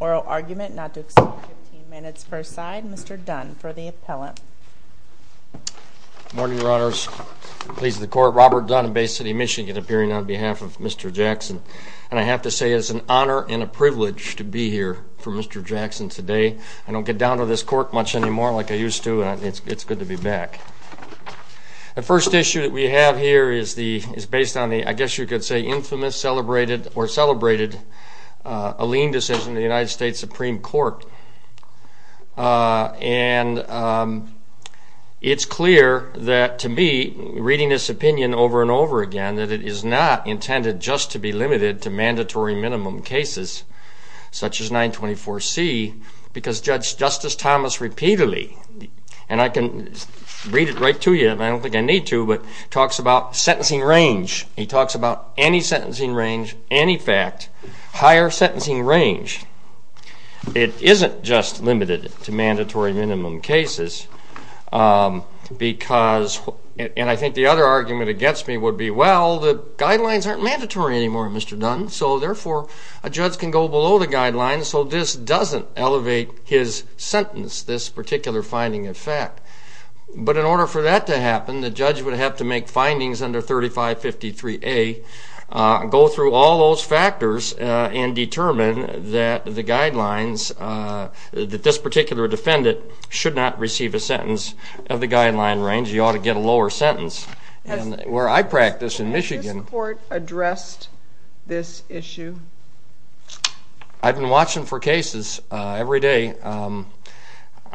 oral argument not to accept 15 minutes per side. Mr. Dunn for the appellant. Good morning, Your Honors. I'm pleased to be in the court. Robert Dunn in Bay City, Michigan, appearing on behalf of Mr. Jackson. And I have to say it's an honor and a privilege to be here for Mr. Jackson today. I don't get down to this court much anymore like I used to, and it's good to be back. Thank you. The first issue that we have here is based on the, I guess you could say, infamous, celebrated, or celebrated, a lien decision in the United States Supreme Court. And it's clear that to me, reading this opinion over and over again, that it is not intended just to be limited to mandatory minimum cases, such as 924C, because Justice Thomas repeatedly, and I can read it right to you, and I don't think I need to, but talks about sentencing range. He talks about any sentencing range, any fact, higher sentencing range. It isn't just limited to mandatory minimum cases, because, and I think the other argument against me would be, well, the guidelines aren't mandatory anymore, Mr. Dunn, so therefore a judge can go below the guidelines, so this doesn't elevate his sentence, this particular finding of fact. But in order for that to happen, the judge would have to make findings under 3553A, go through all those factors, and determine that the guidelines, that this particular defendant should not receive a sentence of the guideline range. Because you ought to get a lower sentence, and where I practice in Michigan... Has this court addressed this issue? I've been watching for cases every day.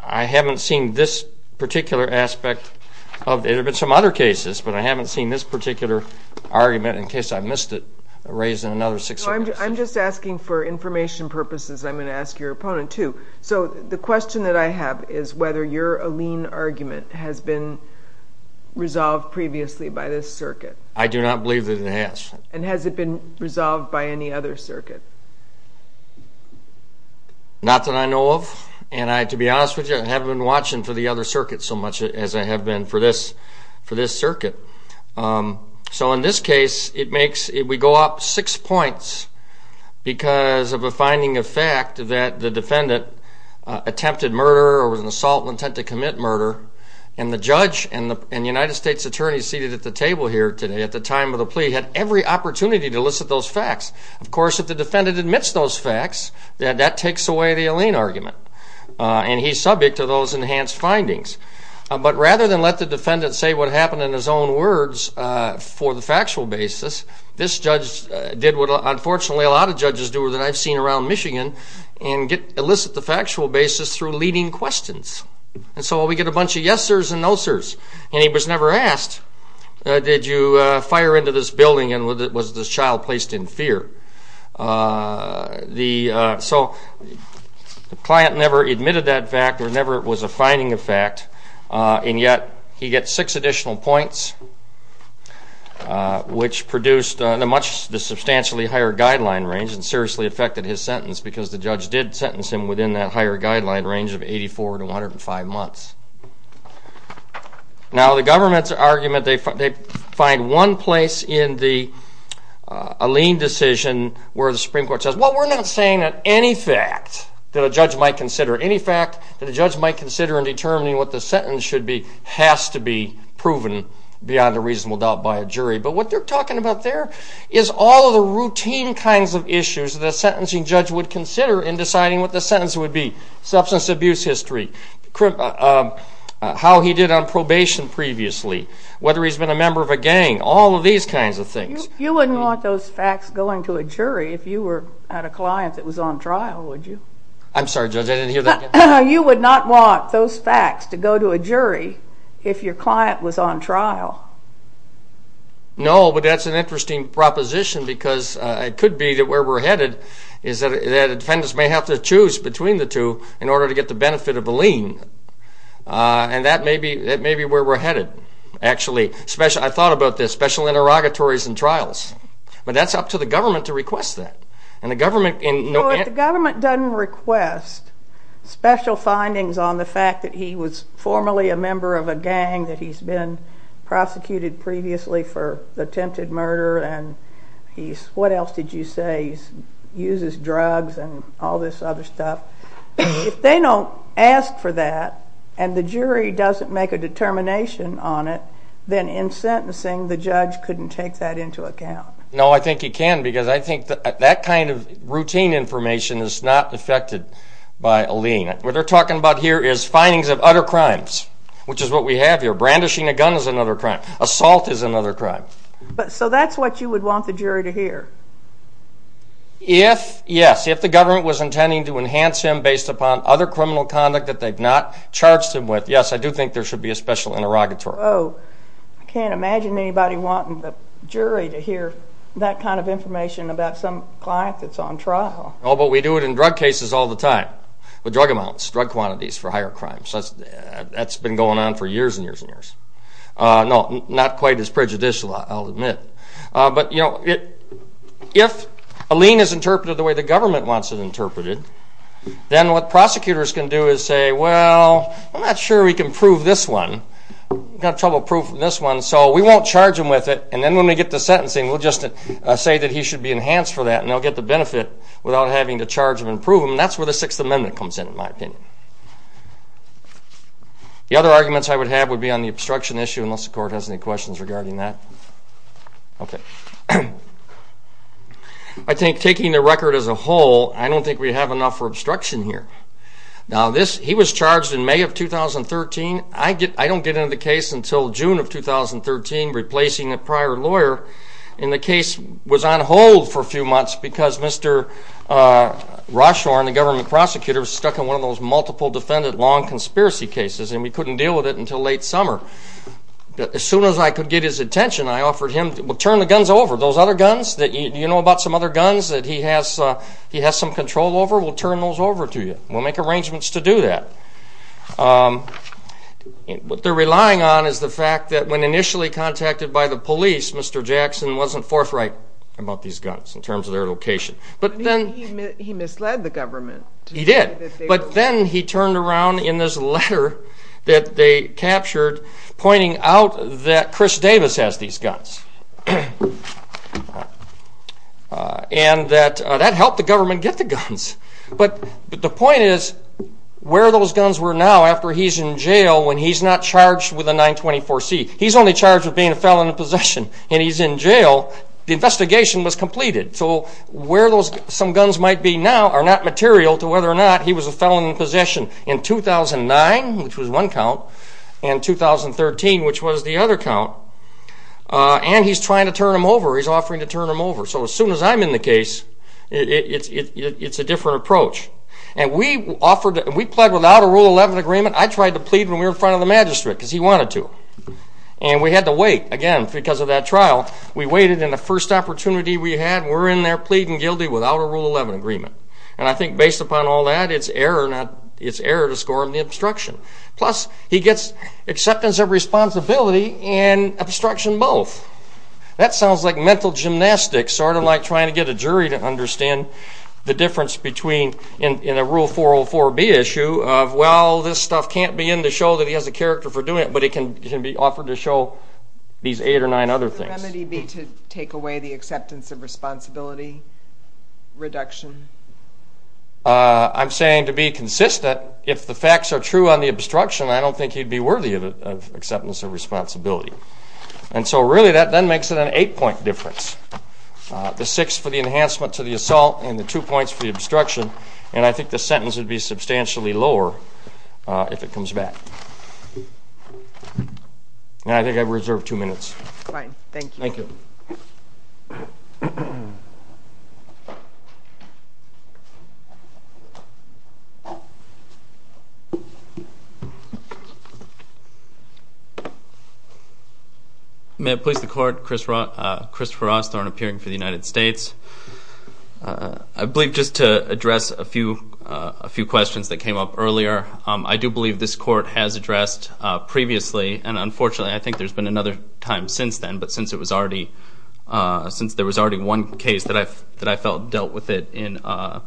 I haven't seen this particular aspect of it. There have been some other cases, but I haven't seen this particular argument, in case I missed it, raised in another six years. No, I'm just asking for information purposes, I'm going to ask your opponent, too. So the question that I have is whether your Alene argument has been resolved previously by this circuit. I do not believe that it has. And has it been resolved by any other circuit? Not that I know of, and to be honest with you, I haven't been watching for the other circuit so much as I have been for this circuit. So in this case, we go up six points, because of a finding of fact that the defendant attempted murder, or was an assault with intent to commit murder, and the judge and the United States Attorney seated at the table here today, at the time of the plea, had every opportunity to elicit those facts. Of course, if the defendant admits those facts, that takes away the Alene argument, and he's subject to those enhanced findings. But rather than let the defendant say what happened in his own words for the factual basis, this judge did what unfortunately a lot of judges do that I've seen around Michigan, and elicit the factual basis through leading questions. And so we get a bunch of yes-ers and no-sers, and he was never asked, did you fire into this building and was this child placed in fear? So the client never admitted that fact or never was a finding of fact, and yet he gets six additional points, which produced a substantially higher guideline range and seriously affected his sentence, because the judge did sentence him within that higher guideline range of 84 to 105 months. Now, the government's argument, they find one place in the Alene decision where the Supreme Court says, well, we're not saying that any fact that a judge might consider, any fact that a judge might consider in determining what the sentence should be has to be proven beyond a reasonable doubt by a jury. But what they're talking about there is all of the routine kinds of issues that a sentencing judge would consider in deciding what the sentence would be, substance abuse history, how he did on probation previously, whether he's been a member of a gang, all of these kinds of things. You wouldn't want those facts going to a jury if you were at a client that was on trial, would you? I'm sorry, Judge, I didn't hear that. You would not want those facts to go to a jury if your client was on trial? No, but that's an interesting proposition, because it could be that where we're headed is that a defendant may have to choose between the two in order to get the benefit of Alene. And that may be where we're headed, actually. I thought about this, special interrogatories and trials. But that's up to the government to request that. Well, if the government doesn't request special findings on the fact that he was formerly a member of a gang, that he's been prosecuted previously for attempted murder, and what else did you say, he uses drugs and all this other stuff, if they don't ask for that and the jury doesn't make a determination on it, then in sentencing the judge couldn't take that into account. No, I think he can, because I think that kind of routine information is not affected by Alene. What they're talking about here is findings of other crimes, which is what we have here. Brandishing a gun is another crime. Assault is another crime. So that's what you would want the jury to hear? Yes, if the government was intending to enhance him based upon other criminal conduct that they've not charged him with, yes, I do think there should be a special interrogatory. Oh, I can't imagine anybody wanting the jury to hear that kind of information about some client that's on trial. Oh, but we do it in drug cases all the time, with drug amounts, drug quantities for higher crimes. That's been going on for years and years and years. No, not quite as prejudicial, I'll admit. But if Alene is interpreted the way the government wants it interpreted, then what prosecutors can do is say, well, I'm not sure we can prove this one. We've got trouble proving this one, so we won't charge him with it. And then when we get to sentencing, we'll just say that he should be enhanced for that, and they'll get the benefit without having to charge him and prove him. And that's where the Sixth Amendment comes in, in my opinion. The other arguments I would have would be on the obstruction issue, unless the court has any questions regarding that. Okay. I think taking the record as a whole, I don't think we have enough for obstruction here. Now, he was charged in May of 2013. I don't get into the case until June of 2013, replacing a prior lawyer. And the case was on hold for a few months because Mr. Rochefort, the government prosecutor, was stuck in one of those multiple defendant long conspiracy cases, and we couldn't deal with it until late summer. As soon as I could get his attention, I offered him, well, turn the guns over. Those other guns that you know about, some other guns that he has some control over, we'll turn those over to you. We'll make arrangements to do that. What they're relying on is the fact that when initially contacted by the police, Mr. Jackson wasn't forthright about these guns in terms of their location. He misled the government. He did. But then he turned around in this letter that they captured, pointing out that Chris Davis has these guns. And that that helped the government get the guns. But the point is where those guns were now after he's in jail when he's not charged with a 924-C. He's only charged with being a felon in possession, and he's in jail. The investigation was completed. So where some guns might be now are not material to whether or not he was a felon in possession in 2009, which was one count, and 2013, which was the other count. And he's trying to turn them over. He's offering to turn them over. So as soon as I'm in the case, it's a different approach. And we pled without a Rule 11 agreement. I tried to plead when we were in front of the magistrate because he wanted to. And we had to wait, again, because of that trial. We waited, and the first opportunity we had, we're in there pleading guilty without a Rule 11 agreement. And I think based upon all that, it's error to score him the obstruction. Plus, he gets acceptance of responsibility and obstruction both. That sounds like mental gymnastics, sort of like trying to get a jury to understand the difference between in a Rule 404-B issue of, well, this stuff can't be in the show that he has a character for doing it, but it can be offered to show these eight or nine other things. Would the remedy be to take away the acceptance of responsibility reduction? I'm saying to be consistent. But if the facts are true on the obstruction, I don't think he'd be worthy of acceptance of responsibility. And so really that then makes it an eight-point difference. The six for the enhancement to the assault and the two points for the obstruction, and I think the sentence would be substantially lower if it comes back. And I think I've reserved two minutes. Fine, thank you. May it please the Court? Christopher Rosthorn, appearing for the United States. I believe just to address a few questions that came up earlier, I do believe this Court has addressed previously, and unfortunately I think there's been another time since then, but since there was already one case that I felt dealt with it in a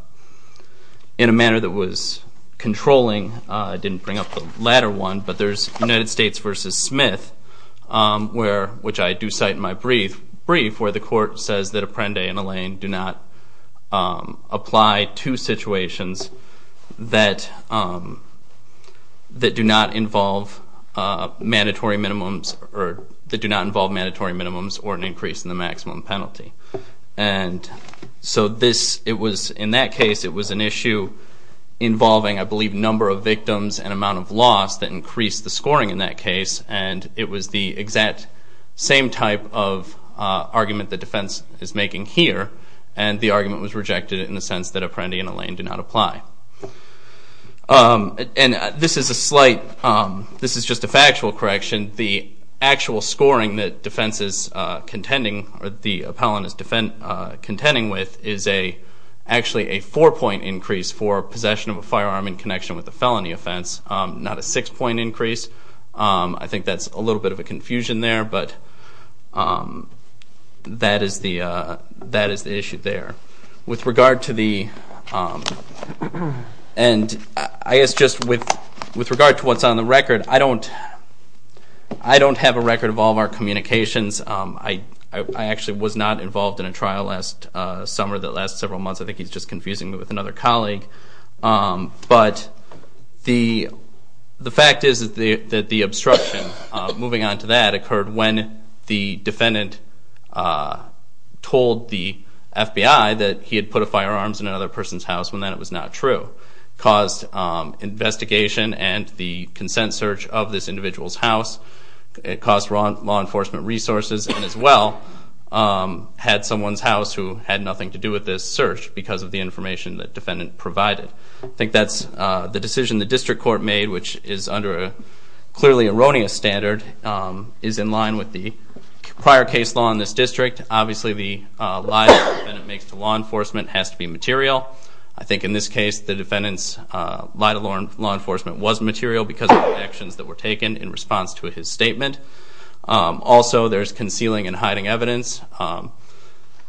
manner that was controlling, I didn't bring up the latter one. But there's United States v. Smith, which I do cite in my brief, where the Court says that Apprende and Allain do not apply to situations that do not involve mandatory minimums or an increase in the maximum penalty. And so in that case it was an issue involving, I believe, number of victims and amount of loss that increased the scoring in that case, and it was the exact same type of argument the defense is making here, and the argument was rejected in the sense that Apprende and Allain do not apply. And this is just a factual correction. The actual scoring that the appellant is contending with is actually a four-point increase for possession of a firearm in connection with the felony offense, not a six-point increase. I think that's a little bit of a confusion there, but that is the issue there. And I guess just with regard to what's on the record, I don't have a record of all of our communications. I actually was not involved in a trial last summer that lasted several months. I think he's just confusing me with another colleague. But the fact is that the obstruction, moving on to that, occurred when the defendant told the FBI that he had put a firearm in another person's house when that was not true. So it caused investigation and the consent search of this individual's house. It caused law enforcement resources, and as well, had someone's house who had nothing to do with this search because of the information the defendant provided. I think that's the decision the district court made, which is under a clearly erroneous standard, is in line with the prior case law in this district. Obviously, the lie that the defendant makes to law enforcement has to be material. I think in this case, the defendant's lie to law enforcement was material because of the actions that were taken in response to his statement. Also, there's concealing and hiding evidence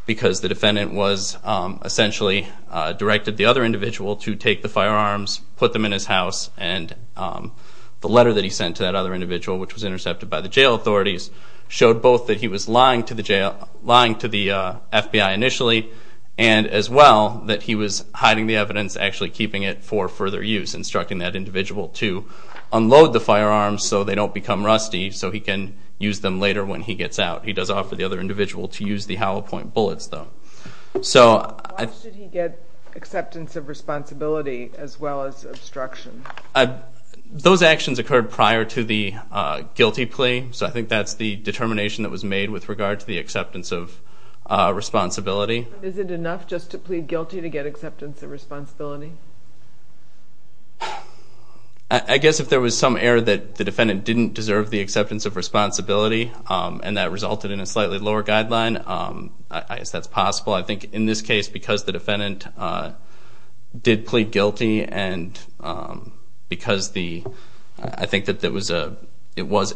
because the defendant was essentially directed the other individual to take the firearms, put them in his house, and the letter that he sent to that other individual, which was intercepted by the jail authorities, showed both that he was lying to the FBI initially and, as well, that he was hiding the evidence, actually keeping it for further use, instructing that individual to unload the firearms so they don't become rusty so he can use them later when he gets out. He does offer the other individual to use the hollow point bullets, though. Why should he get acceptance of responsibility as well as obstruction? Those actions occurred prior to the guilty plea, so I think that's the determination that was made with regard to the acceptance of responsibility. Isn't it enough just to plead guilty to get acceptance of responsibility? I guess if there was some error that the defendant didn't deserve the acceptance of responsibility and that resulted in a slightly lower guideline, I guess that's possible. I think in this case, because the defendant did plead guilty and because I think that it was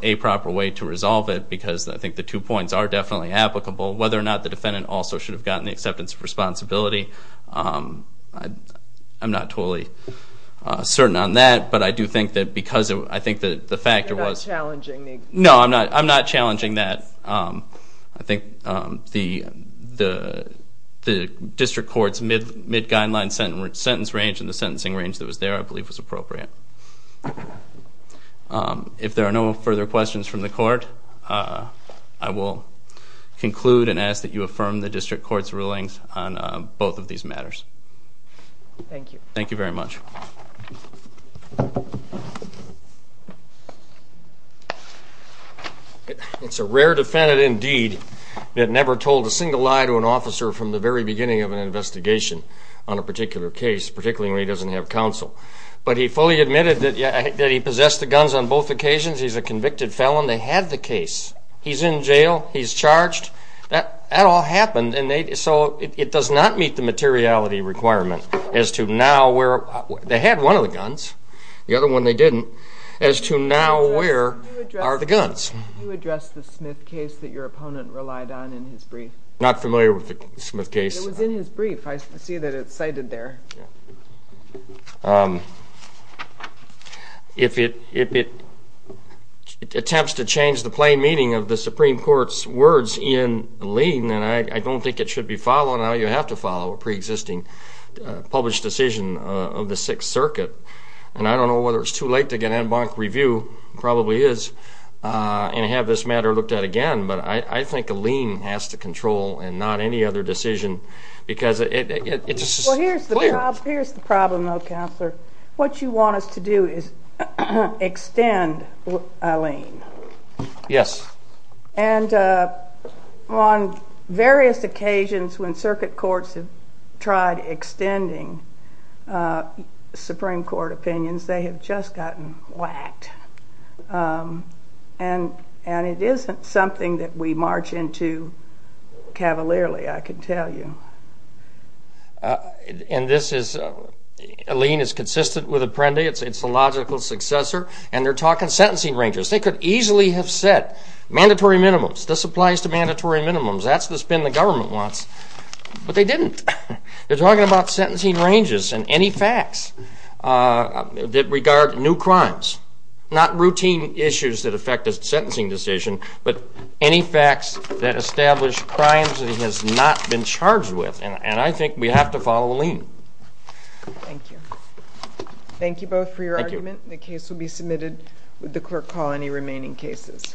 a proper way to resolve it because I think the two points are definitely applicable. Whether or not the defendant also should have gotten the acceptance of responsibility, I'm not totally certain on that. No, I'm not challenging that. I think the district court's mid-guideline sentence range and the sentencing range that was there I believe was appropriate. If there are no further questions from the court, I will conclude and ask that you affirm the district court's rulings on both of these matters. Thank you very much. It's a rare defendant indeed that never told a single lie to an officer from the very beginning of an investigation on a particular case, particularly when he doesn't have counsel. But he fully admitted that he possessed the guns on both occasions. He's a convicted felon. They had the case. He's in jail. He's charged. That all happened, and so it does not meet the materiality requirement as to now where they had one of the guns, the other one they didn't, as to now where are the guns. Can you address the Smith case that your opponent relied on in his brief? I'm not familiar with the Smith case. It was in his brief. I see that it's cited there. If it attempts to change the plain meaning of the Supreme Court's words in a lien, then I don't think it should be followed. Now you have to follow a preexisting published decision of the Sixth Circuit. And I don't know whether it's too late to get an en banc review. It probably is, and have this matter looked at again. But I think a lien has to control and not any other decision because it's clear. Well, here's the problem, though, Counselor. What you want us to do is extend a lien. Yes. And on various occasions when circuit courts have tried extending Supreme Court opinions, they have just gotten whacked. And it isn't something that we march into cavalierly, I can tell you. And this is, a lien is consistent with Apprendi. It's a logical successor. And they're talking sentencing ranges. They could easily have said mandatory minimums. This applies to mandatory minimums. That's the spin the government wants. But they didn't. They're talking about sentencing ranges and any facts that regard new crimes, not routine issues that affect a sentencing decision, but any facts that establish crimes that he has not been charged with. And I think we have to follow a lien. Thank you. Thank you both for your argument. Thank you. The case will be submitted. Would the clerk call any remaining cases?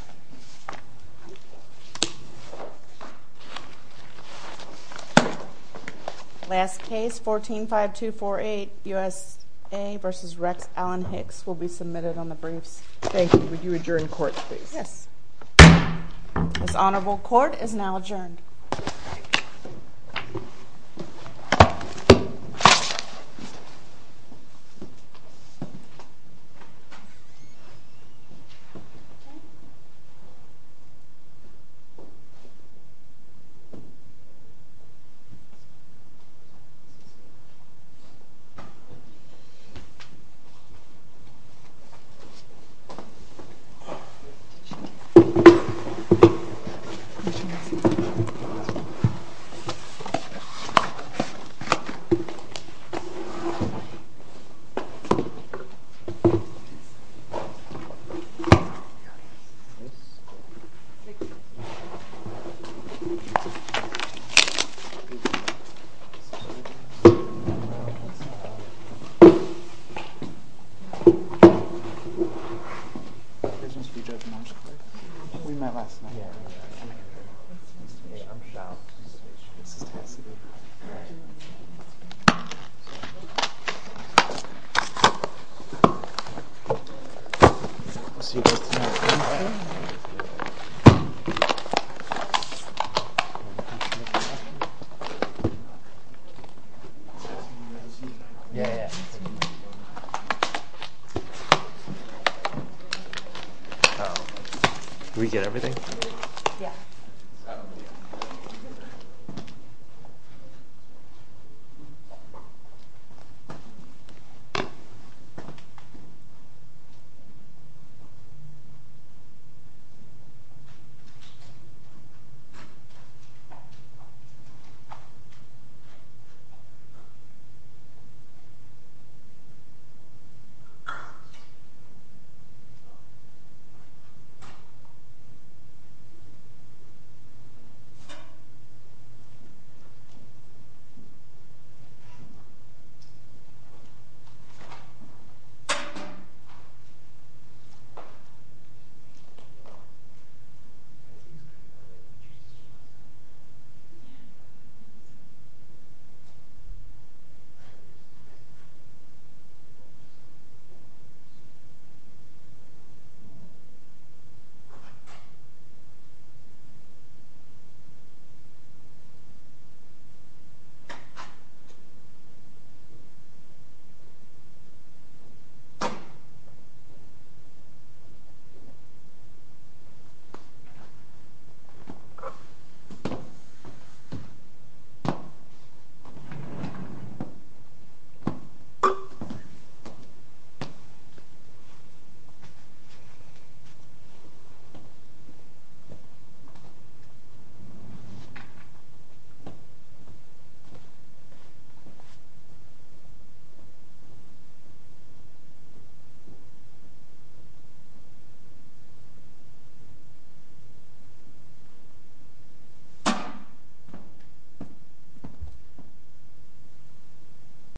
Last case, 14-5248, USA v. Rex Allen Hicks, will be submitted on the briefs. Thank you. Would you adjourn court, please? Yes. This honorable court is now adjourned. Okay. Thank you. I'll see you guys tonight. Did we get everything? Yeah. Okay. Thank you. Thank you. Thank you.